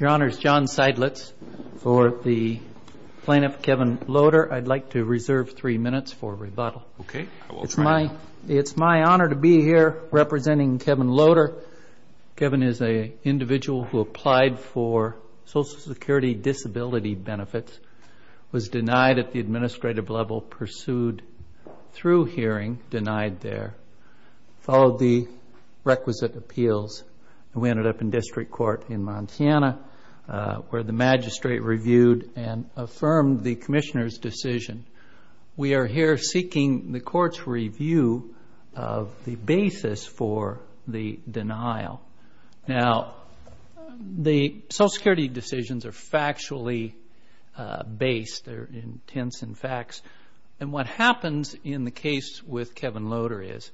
Your Honor, it's John Seidlitz for the plaintiff, Kevin Loader. I'd like to reserve three minutes for rebuttal. It's my honor to be here representing Kevin Loader. Kevin is an individual who applied for Social Security disability benefits, was denied at the administrative level, pursued through hearing, denied there, followed the requisite appeals, and we ended up in district court in Montana where the magistrate reviewed and affirmed the commissioner's decision. We are here seeking the court's review of the basis for the denial. Now, the Social Security decisions are factually based. They're intense in facts. And what happens in the case with Kevin Loader is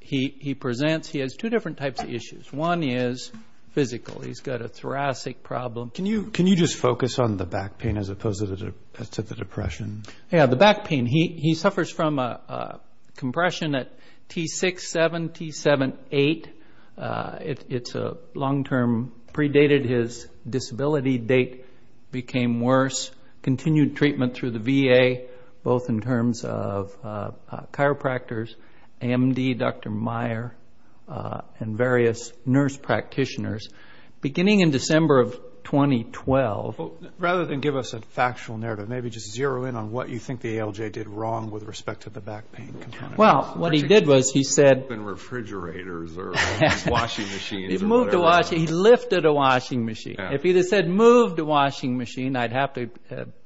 he presents he has two different types of issues. One is physical. He's got a thoracic problem. Can you just focus on the back pain as opposed to the depression? Yeah, the back pain. He suffers from compression at T6, 7, T7, 8. It's a long-term predated. His disability date became worse. Continued treatment through the VA, both in terms of chiropractors, AMD, Dr. Meyer, and various nurse practitioners. Beginning in December of 2012. Rather than give us a factual narrative, maybe just zero in on what you think the ALJ did wrong with respect to the back pain. Well, what he did was he said... In refrigerators or washing machines... He moved the washing. He lifted a washing machine. If he had said move the washing machine, I'd have to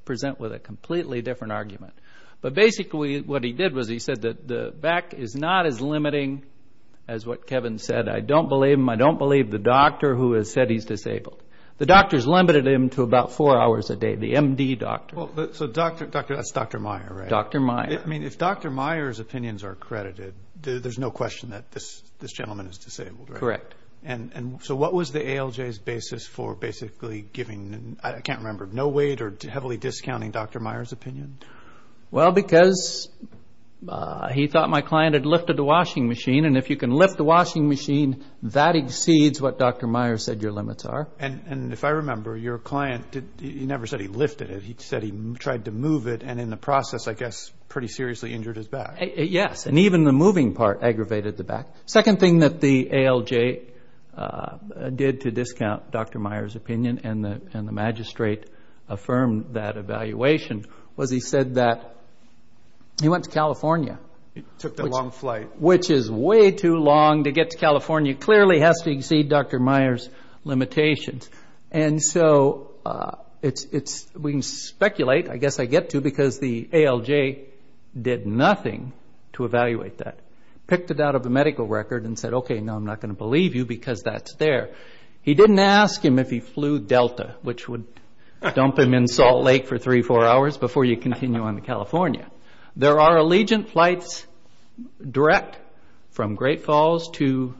present with a completely different argument. But basically what he did was he said that the back is not as limiting as what Kevin said. I don't believe him. I don't believe the doctor who has said he's disabled. The doctors limited him to about four hours a day. The MD doctor. So that's Dr. Meyer, right? Dr. Meyer. I mean, if Dr. Meyer's opinions are credited, there's no question that this gentleman is disabled, right? Correct. And so what was the ALJ's basis for basically giving... Well, because he thought my client had lifted the washing machine. And if you can lift the washing machine, that exceeds what Dr. Meyer said your limits are. And if I remember, your client, he never said he lifted it. He said he tried to move it and in the process, I guess, pretty seriously injured his back. Yes. And even the moving part aggravated the back. Second thing that the ALJ did to discount Dr. Meyer's opinion and the magistrate affirmed that evaluation was he said that he went to California. It took the long flight. Which is way too long to get to California. It clearly has to exceed Dr. Meyer's limitations. And so we can speculate. I guess I get to because the ALJ did nothing to evaluate that. Picked it out of the medical record and said, okay, now I'm not going to believe you because that's there. He didn't ask him if he flew Delta, which would dump him in Salt Lake for three, four hours before you continue on to California. There are Allegiant flights direct from Great Falls to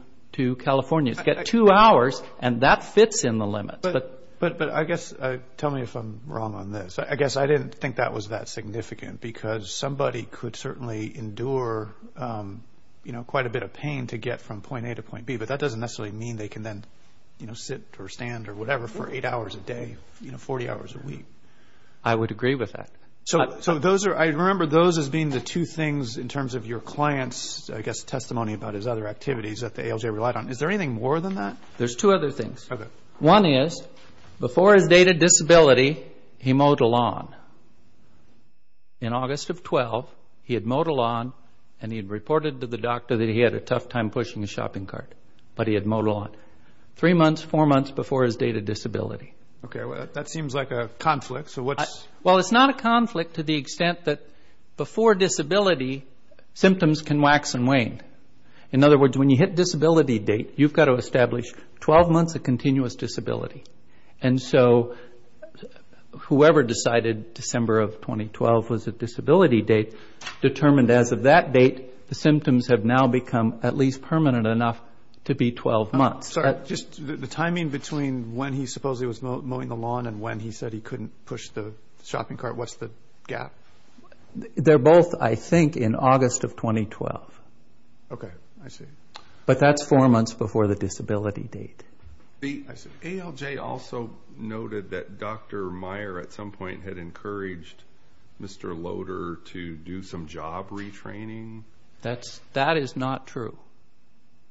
California. It's got two hours and that fits in the limits. But I guess, tell me if I'm wrong on this. I guess I didn't think that was that significant because somebody could certainly endure quite a bit of pain to get from point A to point B, but that doesn't necessarily mean they can then sit or stand or whatever for eight hours a day, 40 hours a week. I would agree with that. So I remember those as being the two things in terms of your client's, I guess, testimony about his other activities that the ALJ relied on. Is there anything more than that? There's two other things. One is before his dated disability, he mowed a lawn. In August of 12, he had mowed a lawn and he had reported to the doctor that he had a tough time pushing his shopping cart, but he had mowed a lawn three months, four months before his dated disability. Okay. That seems like a conflict. Well, it's not a conflict to the extent that before disability, symptoms can wax and wane. In other words, when you hit disability date, you've got to establish 12 months of continuous disability. And so whoever decided December of 2012 was a disability date determined as of that date the symptoms have now become at least permanent enough to be 12 months. Sorry, just the timing between when he supposedly was mowing the lawn and when he said he couldn't push the shopping cart, what's the gap? They're both, I think, in August of 2012. Okay. I see. But that's four months before the disability date. ALJ also noted that Dr. Meyer at some point had encouraged Mr. Loder to do some job retraining. That is not true.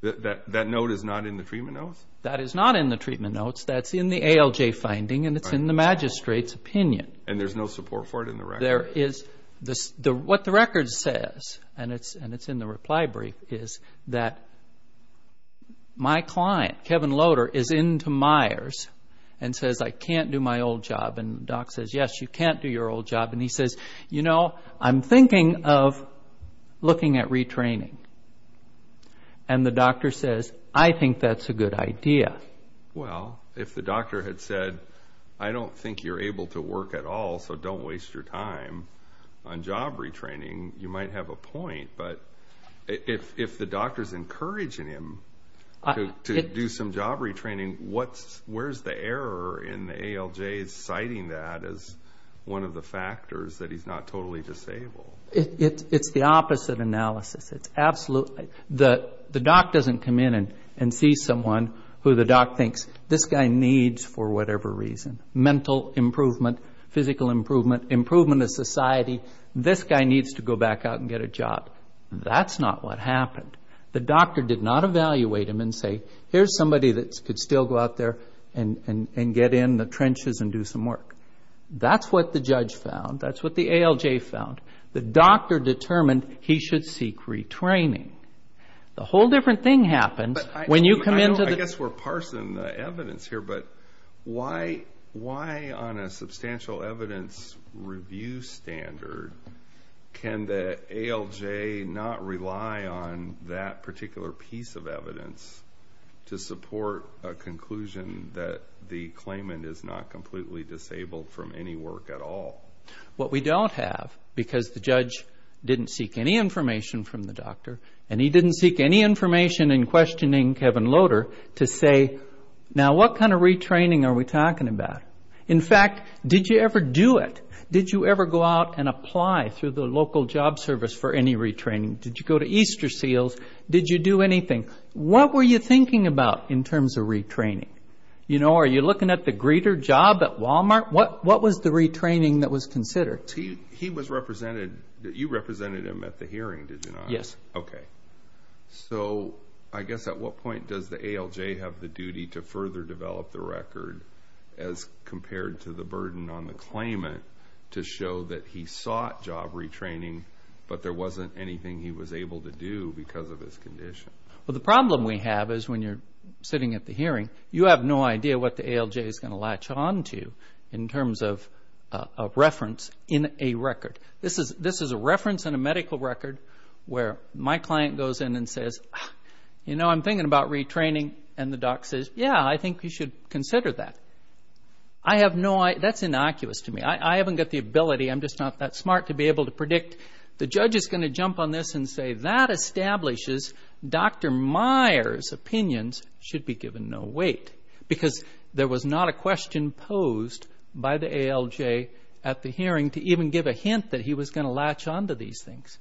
That note is not in the treatment notes? That is not in the treatment notes. That's in the ALJ finding and it's in the magistrate's opinion. And there's no support for it in the record? What the record says, and it's in the reply brief, is that my client, Kevin Loder, is into Myers and says, I can't do my old job. And Doc says, yes, you can't do your old job. And he says, you know, I'm thinking of looking at retraining. And the doctor says, I think that's a good idea. Well, if the doctor had said, I don't think you're able to work at all, so don't waste your time on job retraining, you might have a point. But if the doctor's encouraging him to do some job retraining, where's the error in the ALJ citing that as one of the factors that he's not totally disabled? It's the opposite analysis. The doc doesn't come in and see someone who the doc thinks, this guy needs, for whatever reason, mental improvement, physical improvement, improvement of society, this guy needs to go back out and get a job. That's not what happened. The doctor did not evaluate him and say, here's somebody that could still go out there and get in the trenches and do some work. That's what the judge found. That's what the ALJ found. The doctor determined he should seek retraining. The whole different thing happens when you come into the... I guess we're parsing the evidence here, but why on a substantial evidence review standard can the ALJ not rely on that particular piece of evidence to support a conclusion that the claimant is not completely disabled from any work at all? What we don't have, because the judge didn't seek any information from the doctor and he didn't seek any information in questioning Kevin Loader, to say, now what kind of retraining are we talking about? In fact, did you ever do it? Did you ever go out and apply through the local job service for any retraining? Did you go to Easter Seals? Did you do anything? What were you thinking about in terms of retraining? Are you looking at the greeter job at Walmart? What was the retraining that was considered? He was represented. You represented him at the hearing, did you not? Yes. Okay. So I guess at what point does the ALJ have the duty to further develop the record as compared to the burden on the claimant to show that he sought job retraining but there wasn't anything he was able to do because of his condition? Well, the problem we have is when you're sitting at the hearing, you have no idea what the ALJ is going to latch on to in terms of reference in a record. This is a reference in a medical record where my client goes in and says, you know, I'm thinking about retraining, and the doc says, yeah, I think you should consider that. That's innocuous to me. I haven't got the ability. I'm just not that smart to be able to predict. The judge is going to jump on this and say, that establishes Dr. Meyer's opinions should be given no weight because there was not a question posed by the ALJ at the hearing to even give a hint that he was going to latch on to these things.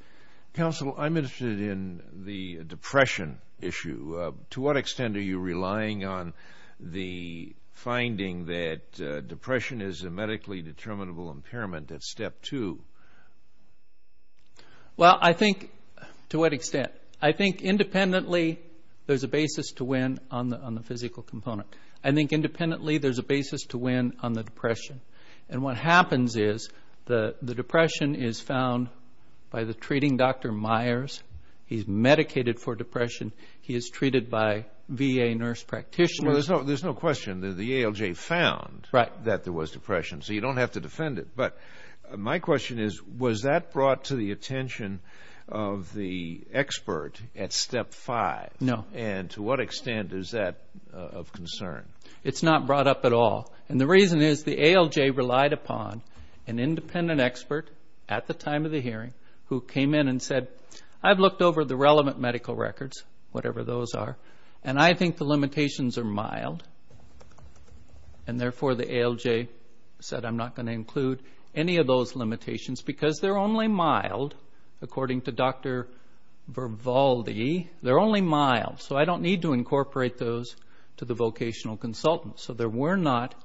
Counsel, I'm interested in the depression issue. To what extent are you relying on the finding that depression is a medically determinable impairment at step two? Well, I think to what extent? I think independently there's a basis to win on the physical component. I think independently there's a basis to win on the depression. And what happens is the depression is found by the treating Dr. Meyer's. He's medicated for depression. He is treated by VA nurse practitioners. Well, there's no question that the ALJ found that there was depression, so you don't have to defend it. But my question is, was that brought to the attention of the expert at step five? No. And to what extent is that of concern? It's not brought up at all. And the reason is the ALJ relied upon an independent expert at the time of the hearing who came in and said, I've looked over the relevant medical records, whatever those are, and I think the limitations are mild. And therefore, the ALJ said, I'm not going to include any of those limitations because they're only mild, according to Dr. Vervalde. They're only mild, so I don't need to incorporate those to the vocational consultant. So there were not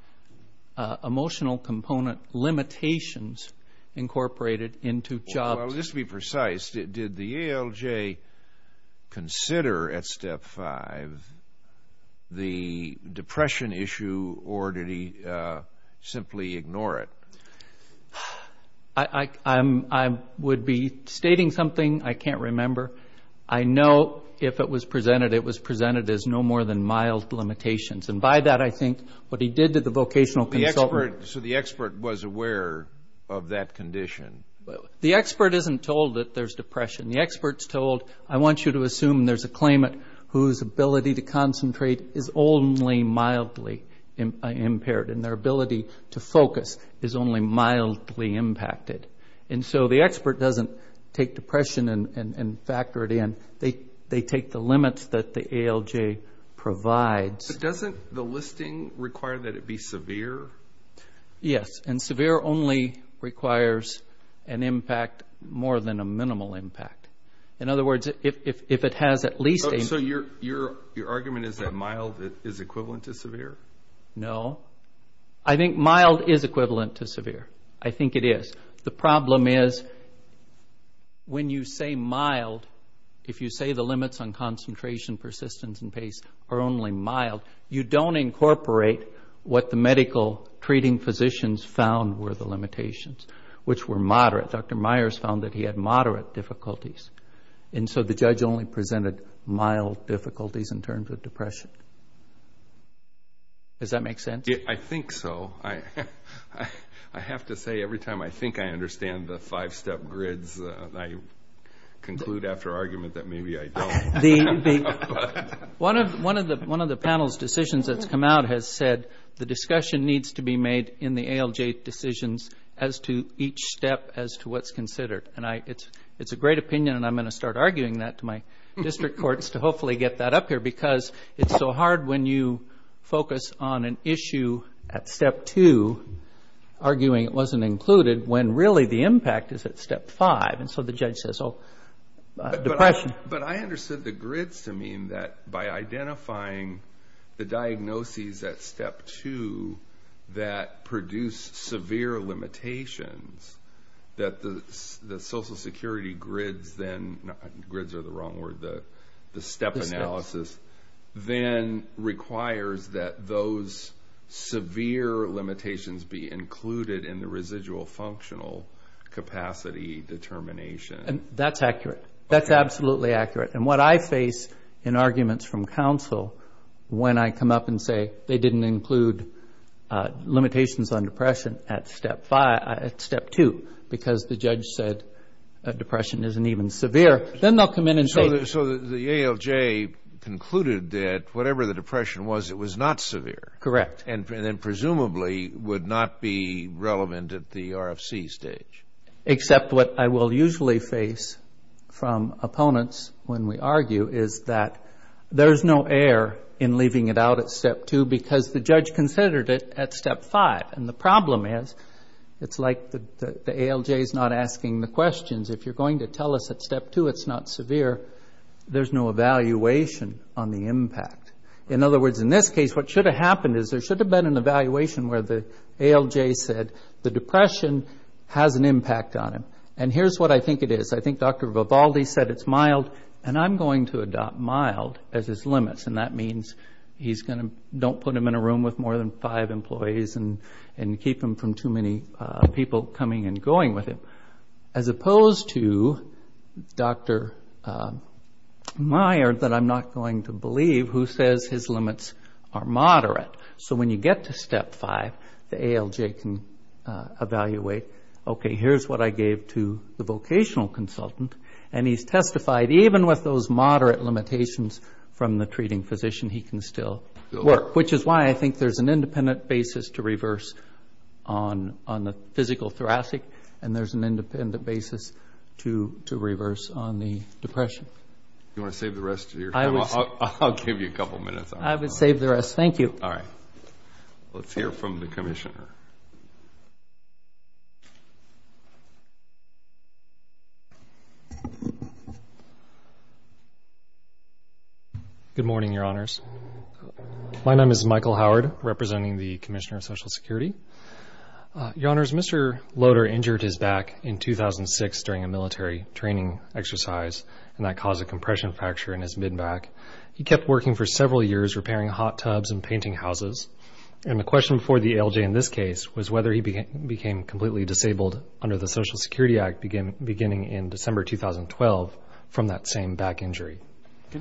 emotional component limitations incorporated into jobs. Well, just to be precise, did the ALJ consider at step five the depression issue or did he simply ignore it? I would be stating something I can't remember. I know if it was presented, it was presented as no more than mild limitations. And by that, I think what he did to the vocational consultant. So the expert was aware of that condition? The expert isn't told that there's depression. The expert's told, I want you to assume there's a claimant whose ability to concentrate is only mildly impaired and their ability to focus is only mildly impacted. And so the expert doesn't take depression and factor it in. They take the limits that the ALJ provides. But doesn't the listing require that it be severe? Yes, and severe only requires an impact more than a minimal impact. In other words, if it has at least a... So your argument is that mild is equivalent to severe? No. I think mild is equivalent to severe. I think it is. The problem is when you say mild, if you say the limits on concentration, persistence, and pace are only mild, you don't incorporate what the medical treating physicians found were the limitations, which were moderate. Dr. Myers found that he had moderate difficulties. And so the judge only presented mild difficulties in terms of depression. Does that make sense? I think so. I have to say every time I think I understand the five-step grids, I conclude after argument that maybe I don't. One of the panel's decisions that's come out has said the discussion needs to be made in the ALJ decisions as to each step as to what's considered. And it's a great opinion, and I'm going to start arguing that to my district courts to hopefully get that up here, because it's so hard when you focus on an issue at step two, arguing it wasn't included, when really the impact is at step five. And so the judge says, oh, depression. But I understood the grids to mean that by identifying the diagnoses at step two that produce severe limitations, that the Social Security grids then, grids are the wrong word, the step analysis, then requires that those severe limitations be included in the residual functional capacity determination. That's accurate. That's absolutely accurate. And what I face in arguments from counsel when I come up and say they didn't include limitations on depression at step two because the judge said depression isn't even severe, then they'll come in and say. So the ALJ concluded that whatever the depression was, it was not severe. Correct. And then presumably would not be relevant at the RFC stage. Except what I will usually face from opponents when we argue is that there's no error in leaving it out at step two because the judge considered it at step five. And the problem is it's like the ALJ is not asking the questions. If you're going to tell us at step two it's not severe, there's no evaluation on the impact. In other words, in this case what should have happened is there should have been an evaluation where the ALJ said the depression has an impact on him. And here's what I think it is. I think Dr. Vivaldi said it's mild, and I'm going to adopt mild as his limits. And that means he's going to don't put him in a room with more than five employees and keep him from too many people coming and going with him. As opposed to Dr. Meyer that I'm not going to believe who says his limits are moderate. So when you get to step five, the ALJ can evaluate, okay, here's what I gave to the vocational consultant, and he's testified even with those moderate limitations from the treating physician he can still work, which is why I think there's an independent basis to reverse on the physical thoracic, and there's an independent basis to reverse on the depression. You want to save the rest of your time? I'll give you a couple minutes. I would save the rest. Thank you. All right. Let's hear from the commissioner. Good morning, Your Honors. My name is Michael Howard, representing the Commissioner of Social Security. Your Honors, Mr. Loader injured his back in 2006 during a military training exercise, and that caused a compression fracture in his mid-back. He kept working for several years repairing hot tubs and painting houses, and the question for the ALJ in this case was whether he became completely disabled under the Social Security Act beginning in December 2012 from that same back injury.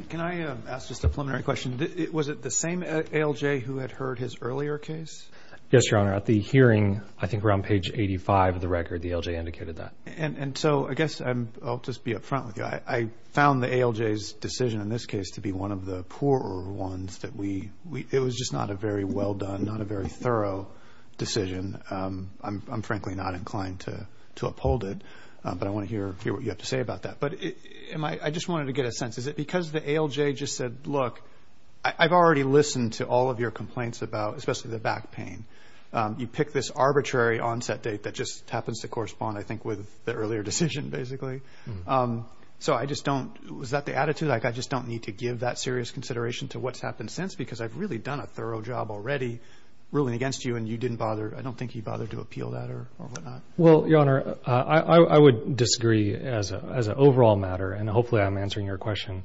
Can I ask just a preliminary question? Was it the same ALJ who had heard his earlier case? Yes, Your Honor. At the hearing, I think around page 85 of the record, the ALJ indicated that. And so I guess I'll just be up front with you. I found the ALJ's decision in this case to be one of the poorer ones. It was just not a very well done, not a very thorough decision. I'm frankly not inclined to uphold it, but I want to hear what you have to say about that. But I just wanted to get a sense. Is it because the ALJ just said, look, I've already listened to all of your complaints about, especially the back pain, you pick this arbitrary onset date that just happens to correspond, I think, with the earlier decision basically. So I just don't – is that the attitude? Like I just don't need to give that serious consideration to what's happened since because I've really done a thorough job already ruling against you, and you didn't bother – I don't think you bothered to appeal that or whatnot. Well, Your Honor, I would disagree as an overall matter, and hopefully I'm answering your question.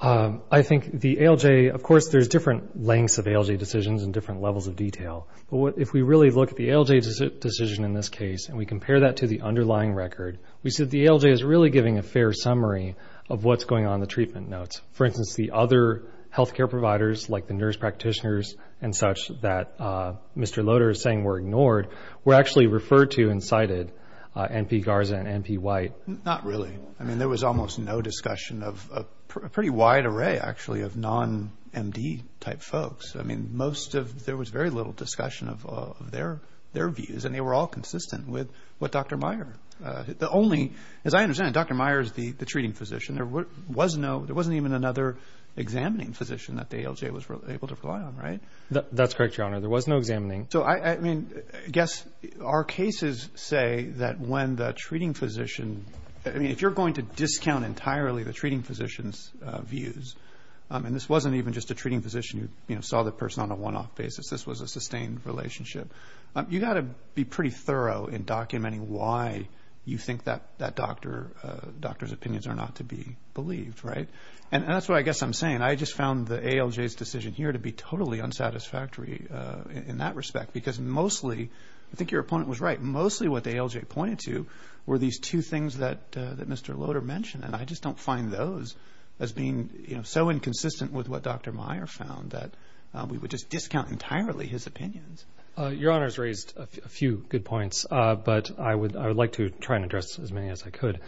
I think the ALJ – of course, there's different lengths of ALJ decisions and different levels of detail. But if we really look at the ALJ decision in this case and we compare that to the underlying record, we see that the ALJ is really giving a fair summary of what's going on in the treatment notes. For instance, the other health care providers, like the nurse practitioners and such, that Mr. Loader is saying were ignored, were actually referred to and cited, NP Garza and NP White. Not really. I mean, there was almost no discussion of – a pretty wide array, actually, of non-MD type folks. I mean, most of – there was very little discussion of their views, and they were all consistent with what Dr. Meyer – the only – as I understand it, Dr. Meyer is the treating physician. There was no – there wasn't even another examining physician that the ALJ was able to rely on, right? That's correct, Your Honor. There was no examining. So, I mean, I guess our cases say that when the treating physician – I mean, if you're going to discount entirely the treating physician's views, and this wasn't even just a treating physician who saw the person on a one-off basis. This was a sustained relationship. You've got to be pretty thorough in documenting why you think that doctor's opinions are not to be believed, right? And that's what I guess I'm saying. I just found the ALJ's decision here to be totally unsatisfactory in that respect, because mostly – I think your opponent was right. Mostly what the ALJ pointed to were these two things that Mr. Loader mentioned, and I just don't find those as being, you know, so inconsistent with what Dr. Meyer found that we would just discount entirely his opinions. Your Honor's raised a few good points, but I would like to try and address as many as I could.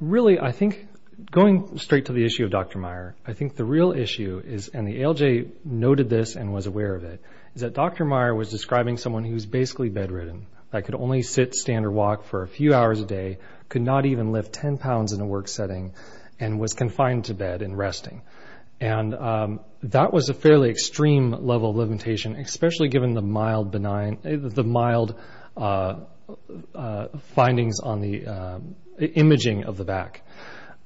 Really, I think going straight to the issue of Dr. Meyer, I think the real issue is – and the ALJ noted this and was aware of it – is that Dr. Meyer was describing someone who was basically bedridden, that could only sit, stand, or walk for a few hours a day, could not even lift 10 pounds in a work setting, and was confined to bed and resting. And that was a fairly extreme level of limitation, especially given the mild findings on the imaging of the back.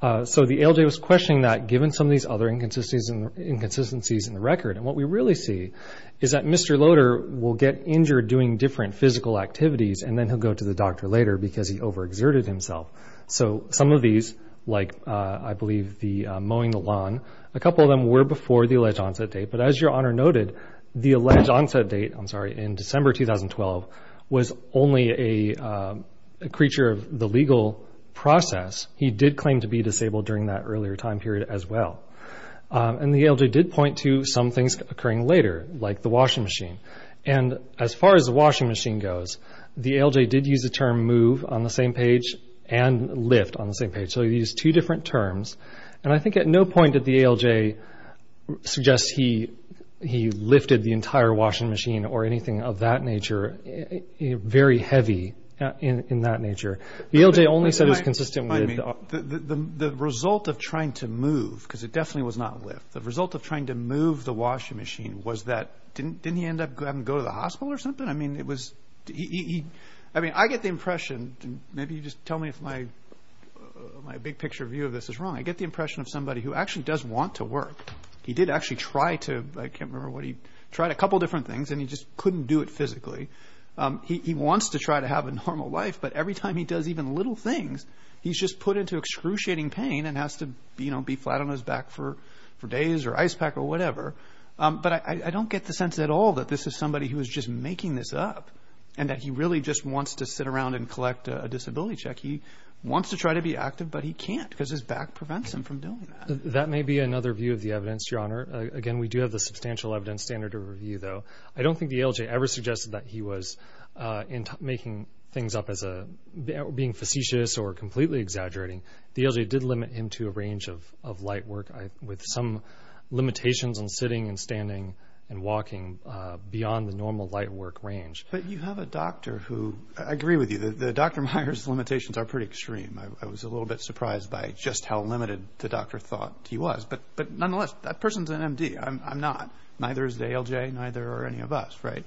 So the ALJ was questioning that, given some of these other inconsistencies in the record. And what we really see is that Mr. Loader will get injured doing different physical activities, and then he'll go to the doctor later because he overexerted himself. So some of these, like I believe the mowing the lawn, a couple of them were before the alleged onset date. But as Your Honor noted, the alleged onset date – I'm sorry – in December 2012 was only a creature of the legal process. He did claim to be disabled during that earlier time period as well. And the ALJ did point to some things occurring later, like the washing machine. And as far as the washing machine goes, the ALJ did use the term move on the same page and lift on the same page. So he used two different terms. And I think at no point did the ALJ suggest he lifted the entire washing machine or anything of that nature, very heavy in that nature. The ALJ only said it was consistent with – The result of trying to move – because it definitely was not lift – the result of trying to move the washing machine was that – didn't he end up having to go to the hospital or something? I mean, it was – I mean, I get the impression – maybe you just tell me if my big-picture view of this is wrong – I get the impression of somebody who actually does want to work. He did actually try to – I can't remember what he – tried a couple different things, and he just couldn't do it physically. He wants to try to have a normal life, but every time he does even little things, he's just put into excruciating pain and has to be flat on his back for days or ice pack or whatever. But I don't get the sense at all that this is somebody who is just making this up and that he really just wants to sit around and collect a disability check. He wants to try to be active, but he can't because his back prevents him from doing that. That may be another view of the evidence, Your Honor. Again, we do have the substantial evidence standard to review, though. I don't think the ALJ ever suggested that he was making things up as a – or completely exaggerating. The ALJ did limit him to a range of light work with some limitations on sitting and standing and walking beyond the normal light work range. But you have a doctor who – I agree with you. Dr. Meyer's limitations are pretty extreme. I was a little bit surprised by just how limited the doctor thought he was. But nonetheless, that person's an MD. I'm not. Neither is the ALJ, neither are any of us, right?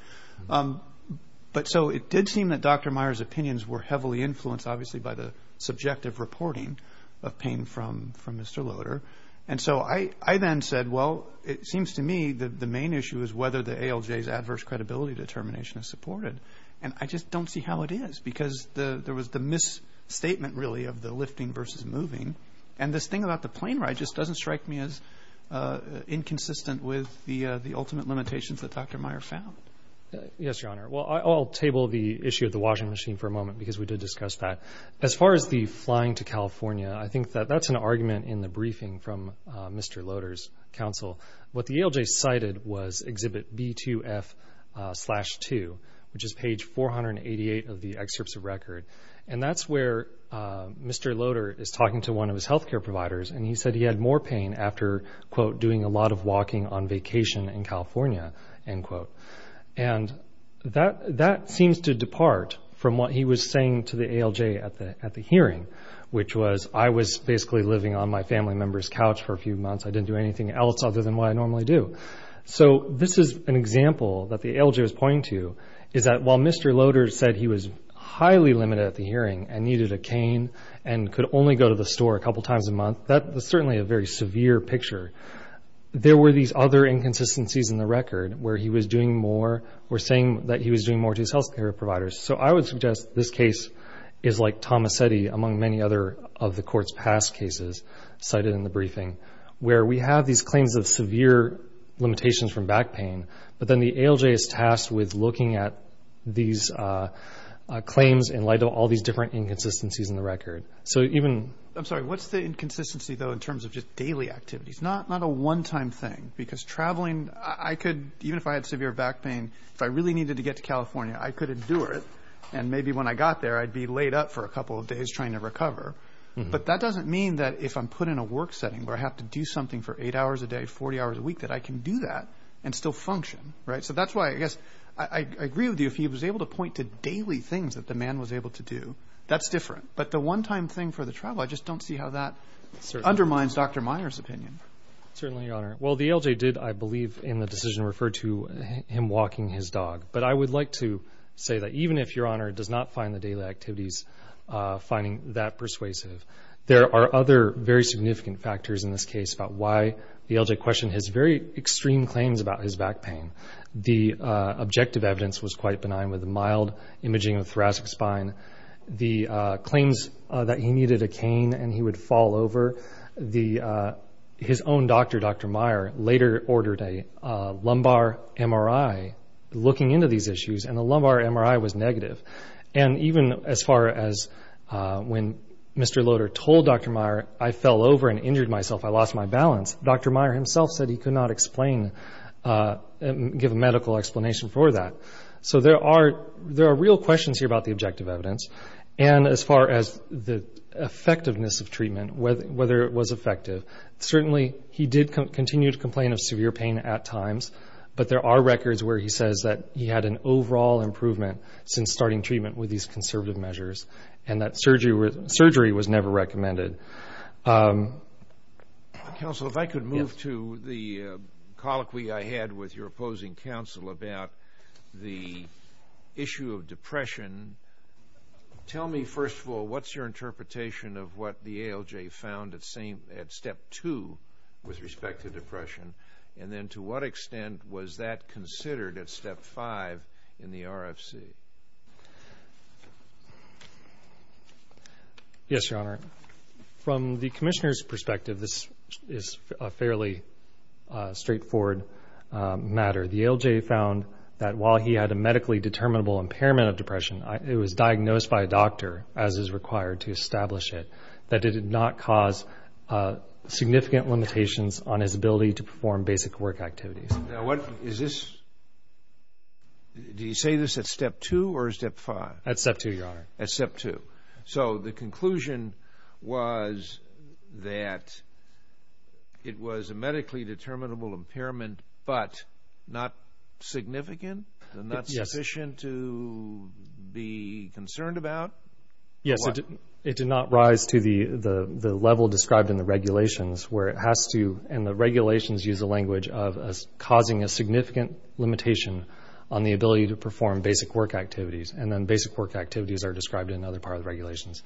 But so it did seem that Dr. Meyer's opinions were heavily influenced, obviously, by the subjective reporting of pain from Mr. Loader. And so I then said, well, it seems to me that the main issue is whether the ALJ's adverse credibility determination is supported. And I just don't see how it is because there was the misstatement, really, of the lifting versus moving. And this thing about the plane ride just doesn't strike me as inconsistent with the ultimate limitations that Dr. Meyer found. Yes, Your Honor. Well, I'll table the issue of the washing machine for a moment because we did discuss that. As far as the flying to California, I think that that's an argument in the briefing from Mr. Loader's counsel. What the ALJ cited was Exhibit B2F-2, which is page 488 of the excerpts of record. And that's where Mr. Loader is talking to one of his health care providers, and he said he had more pain after, quote, doing a lot of walking on vacation in California, end quote. And that seems to depart from what he was saying to the ALJ at the hearing, which was I was basically living on my family member's couch for a few months. I didn't do anything else other than what I normally do. So this is an example that the ALJ was pointing to, is that while Mr. Loader said he was highly limited at the hearing and needed a cane and could only go to the store a couple times a month, that was certainly a very severe picture. There were these other inconsistencies in the record where he was doing more or saying that he was doing more to his health care providers. So I would suggest this case is like Tomasetti, among many other of the Court's past cases cited in the briefing, where we have these claims of severe limitations from back pain, but then the ALJ is tasked with looking at these claims in light of all these different inconsistencies in the record. I'm sorry. What's the inconsistency, though, in terms of just daily activities, not a one-time thing? Because traveling, I could, even if I had severe back pain, if I really needed to get to California, I could endure it, and maybe when I got there I'd be laid up for a couple of days trying to recover. But that doesn't mean that if I'm put in a work setting where I have to do something for eight hours a day, 40 hours a week, that I can do that and still function. So that's why I guess I agree with you. If he was able to point to daily things that the man was able to do, that's different. But the one-time thing for the travel, I just don't see how that undermines Dr. Meyer's opinion. Certainly, Your Honor. Well, the ALJ did, I believe, in the decision, refer to him walking his dog. But I would like to say that even if Your Honor does not find the daily activities finding that persuasive, there are other very significant factors in this case about why the ALJ questioned his very extreme claims about his back pain. The objective evidence was quite benign with the mild imaging of the thoracic spine. The claims that he needed a cane and he would fall over, his own doctor, Dr. Meyer, later ordered a lumbar MRI looking into these issues, and the lumbar MRI was negative. And even as far as when Mr. Loader told Dr. Meyer, I fell over and injured myself, I lost my balance, Dr. Meyer himself said he could not explain and give a medical explanation for that. So there are real questions here about the objective evidence. And as far as the effectiveness of treatment, whether it was effective, certainly he did continue to complain of severe pain at times, but there are records where he says that he had an overall improvement since starting treatment with these conservative measures and that surgery was never recommended. Counsel, if I could move to the colloquy I had with your opposing counsel about the issue of depression, tell me, first of all, what's your interpretation of what the ALJ found at Step 2 with respect to depression, and then to what extent was that considered at Step 5 in the RFC? Yes, Your Honor. From the Commissioner's perspective, this is a fairly straightforward matter. The ALJ found that while he had a medically determinable impairment of depression, it was diagnosed by a doctor, as is required to establish it, that it did not cause significant limitations on his ability to perform basic work activities. Now, what is this? Did he say this at Step 2 or Step 5? At Step 2, Your Honor. At Step 2. So the conclusion was that it was a medically determinable impairment, but not significant and not sufficient to be concerned about? Yes, it did not rise to the level described in the regulations where it has to, and the regulations use a language of causing a significant limitation on the ability to perform basic work activities, and then basic work activities are described in another part of the regulations.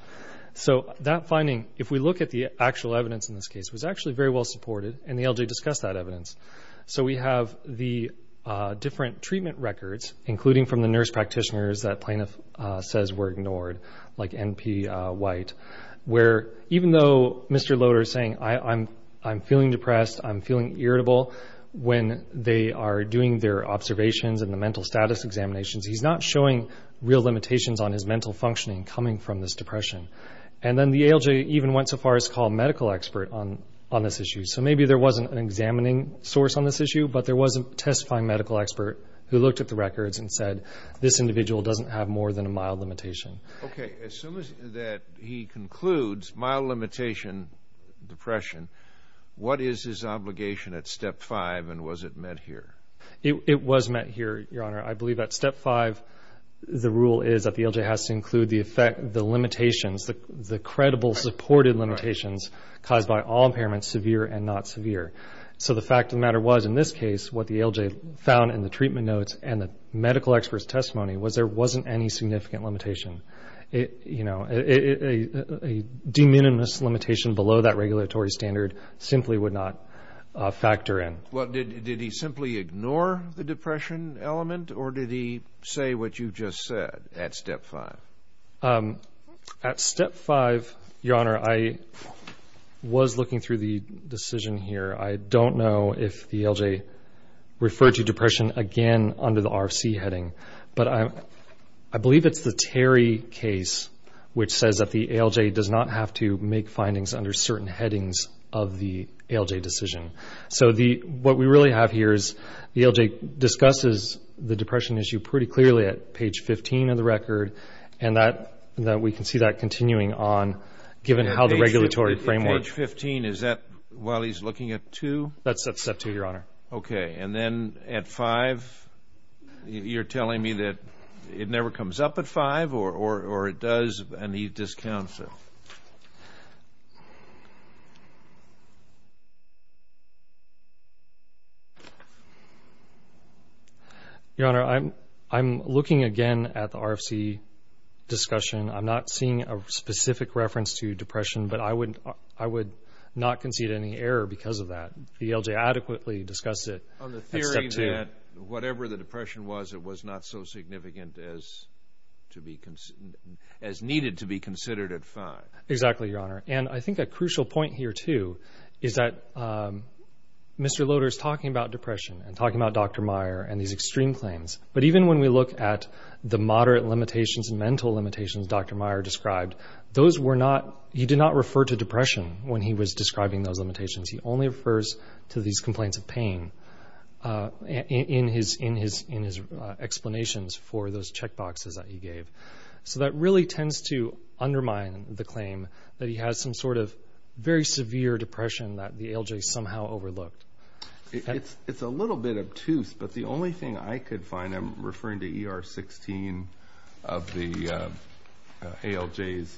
So that finding, if we look at the actual evidence in this case, was actually very well supported, and the ALJ discussed that evidence. So we have the different treatment records, including from the nurse practitioners that plaintiff says were ignored, like N.P. White, where even though Mr. Loader is saying, I'm feeling depressed, I'm feeling irritable, when they are doing their observations and the mental status examinations, he's not showing real limitations on his mental functioning coming from this depression. And then the ALJ even went so far as to call a medical expert on this issue. So maybe there wasn't an examining source on this issue, but there was a testifying medical expert who looked at the records and said this individual doesn't have more than a mild limitation. Okay. As soon as he concludes mild limitation, depression, what is his obligation at Step 5, and was it met here? It was met here, Your Honor. I believe that Step 5, the rule is that the ALJ has to include the limitations, the credible supported limitations caused by all impairments, severe and not severe. So the fact of the matter was, in this case, what the ALJ found in the treatment notes and the medical expert's testimony was there wasn't any significant limitation. A de minimis limitation below that regulatory standard simply would not factor in. Well, did he simply ignore the depression element, or did he say what you just said at Step 5? At Step 5, Your Honor, I was looking through the decision here. I don't know if the ALJ referred to depression again under the RFC heading, but I believe it's the Terry case which says that the ALJ does not have to make findings under certain headings of the ALJ decision. So what we really have here is the ALJ discusses the depression issue pretty clearly at page 15 of the record, and we can see that continuing on, given how the regulatory framework. Page 15, is that while he's looking at 2? That's at Step 2, Your Honor. Okay. And then at 5, you're telling me that it never comes up at 5 or it does and he discounts it? Your Honor, I'm looking again at the RFC discussion. I'm not seeing a specific reference to depression, but I would not concede any error because of that. The ALJ adequately discussed it at Step 2. On the theory that whatever the depression was, it was not so significant as needed to be considered at 5. Exactly, Your Honor. And I think a crucial point here, too, is that Mr. Loader is talking about depression and talking about Dr. Meyer and these extreme claims, but even when we look at the moderate limitations and mental limitations Dr. Meyer described, those were not – he did not refer to depression when he was describing those limitations. He only refers to these complaints of pain in his explanations for those check boxes that he gave. So that really tends to undermine the claim that he has some sort of very severe depression that the ALJ somehow overlooked. It's a little bit obtuse, but the only thing I could find, and I'm referring to ER 16 of the ALJ's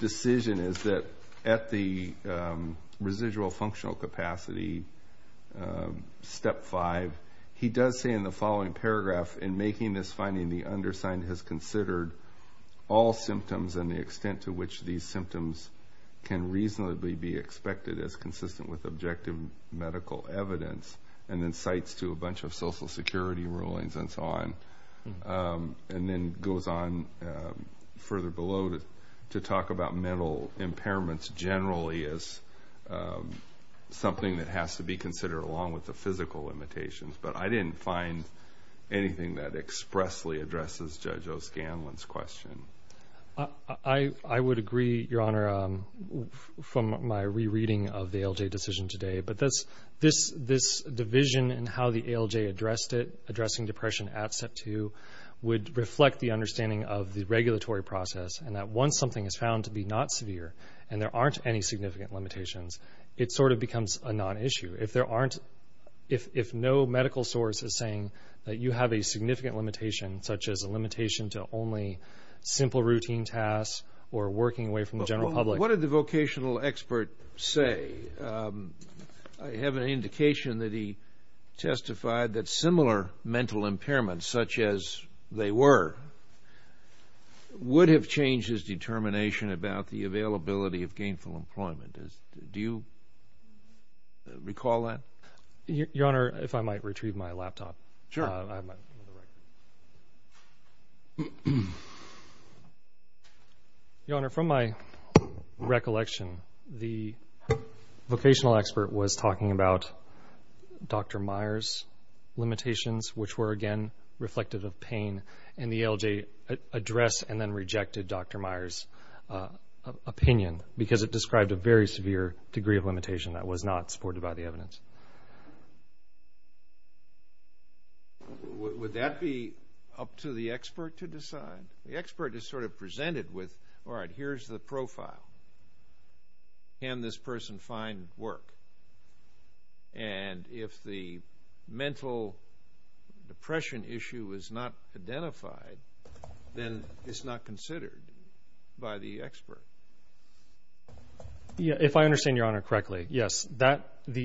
decision, is that at the residual functional capacity, Step 5, he does say in the following paragraph, in making this finding the undersigned has considered all symptoms and the extent to which these symptoms can reasonably be expected as consistent with objective medical evidence, and then cites to a bunch of Social Security rulings and so on, and then goes on further below to talk about mental impairments generally as something that has to be considered along with the physical limitations. But I didn't find anything that expressly addresses Judge O'Scanlan's question. I would agree, Your Honor, from my rereading of the ALJ decision today. But this division in how the ALJ addressed it, addressing depression at Step 2, would reflect the understanding of the regulatory process and that once something is found to be not severe and there aren't any significant limitations, it sort of becomes a non-issue. If no medical source is saying that you have a significant limitation, such as a limitation to only simple routine tasks or working away from the general public. What did the vocational expert say? I have an indication that he testified that similar mental impairments, such as they were, would have changed his determination about the availability of gainful employment. Do you recall that? Your Honor, if I might retrieve my laptop. Sure. I have mine on the right. Your Honor, from my recollection, the vocational expert was talking about Dr. Meyer's limitations, which were, again, reflective of pain in the ALJ address and then rejected Dr. Meyer's opinion because it described a very severe degree of limitation that was not supported by the evidence. Would that be up to the expert to decide? The expert is sort of presented with, all right, here's the profile. Can this person find work? And if the mental depression issue is not identified, then it's not considered by the expert. If I understand Your Honor correctly, yes. The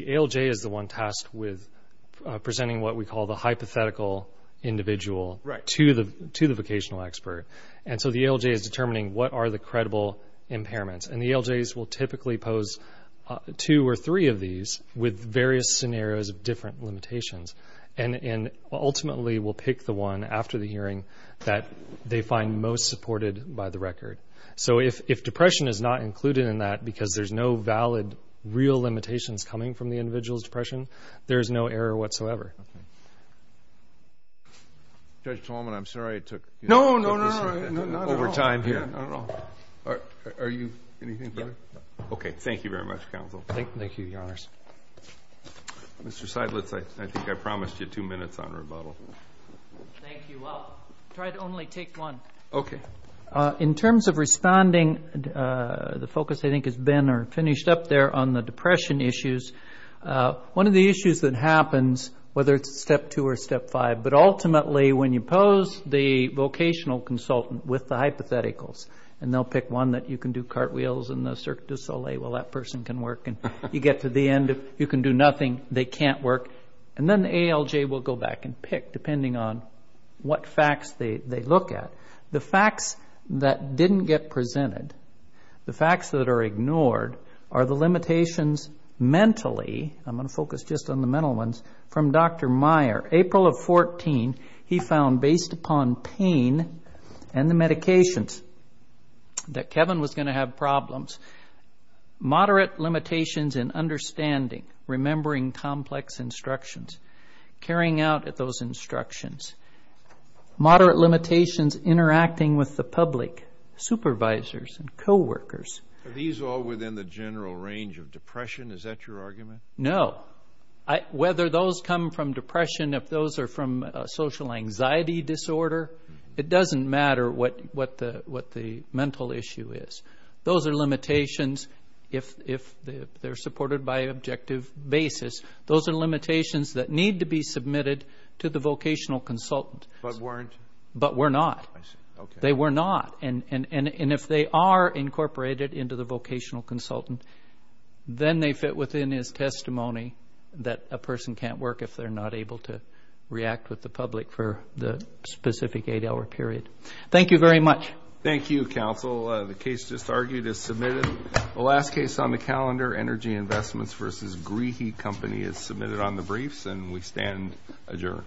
ALJ is the one tasked with presenting what we call the hypothetical individual to the vocational expert. And so the ALJ is determining what are the credible impairments. And the ALJs will typically pose two or three of these with various scenarios of different limitations and ultimately will pick the one after the hearing that they find most supported by the record. So if depression is not included in that because there's no valid real limitations coming from the individual's depression, there's no error whatsoever. Judge Talman, I'm sorry I took this over time here. I don't know. Are you anything further? Okay. Thank you very much, counsel. Thank you, Your Honors. Mr. Seidlitz, I think I promised you two minutes on rebuttal. Thank you. I'll try to only take one. Okay. In terms of responding, the focus I think has been or finished up there on the depression issues, one of the issues that happens, whether it's step two or step five, but ultimately when you pose the vocational consultant with the hypotheticals and they'll pick one that you can do cartwheels in the Cirque du Soleil, well, that person can work, and you get to the end, you can do nothing, they can't work, and then the ALJ will go back and pick depending on what facts they look at. The facts that didn't get presented, the facts that are ignored, are the limitations mentally. I'm going to focus just on the mental ones. From Dr. Meyer, April of 14, he found, based upon pain and the medications, that Kevin was going to have problems, moderate limitations in understanding, remembering complex instructions, carrying out those instructions, moderate limitations interacting with the public, supervisors, and coworkers. Are these all within the general range of depression? Is that your argument? No. Well, whether those come from depression, if those are from a social anxiety disorder, it doesn't matter what the mental issue is. Those are limitations if they're supported by an objective basis. Those are limitations that need to be submitted to the vocational consultant. But weren't? But were not. I see. Okay. They were not. And if they are incorporated into the vocational consultant, then they fit within his testimony that a person can't work if they're not able to react with the public for the specific eight-hour period. Thank you very much. Thank you, counsel. The case just argued is submitted. The last case on the calendar, Energy Investments v. Greehe Company, is submitted on the briefs, and we stand adjourned.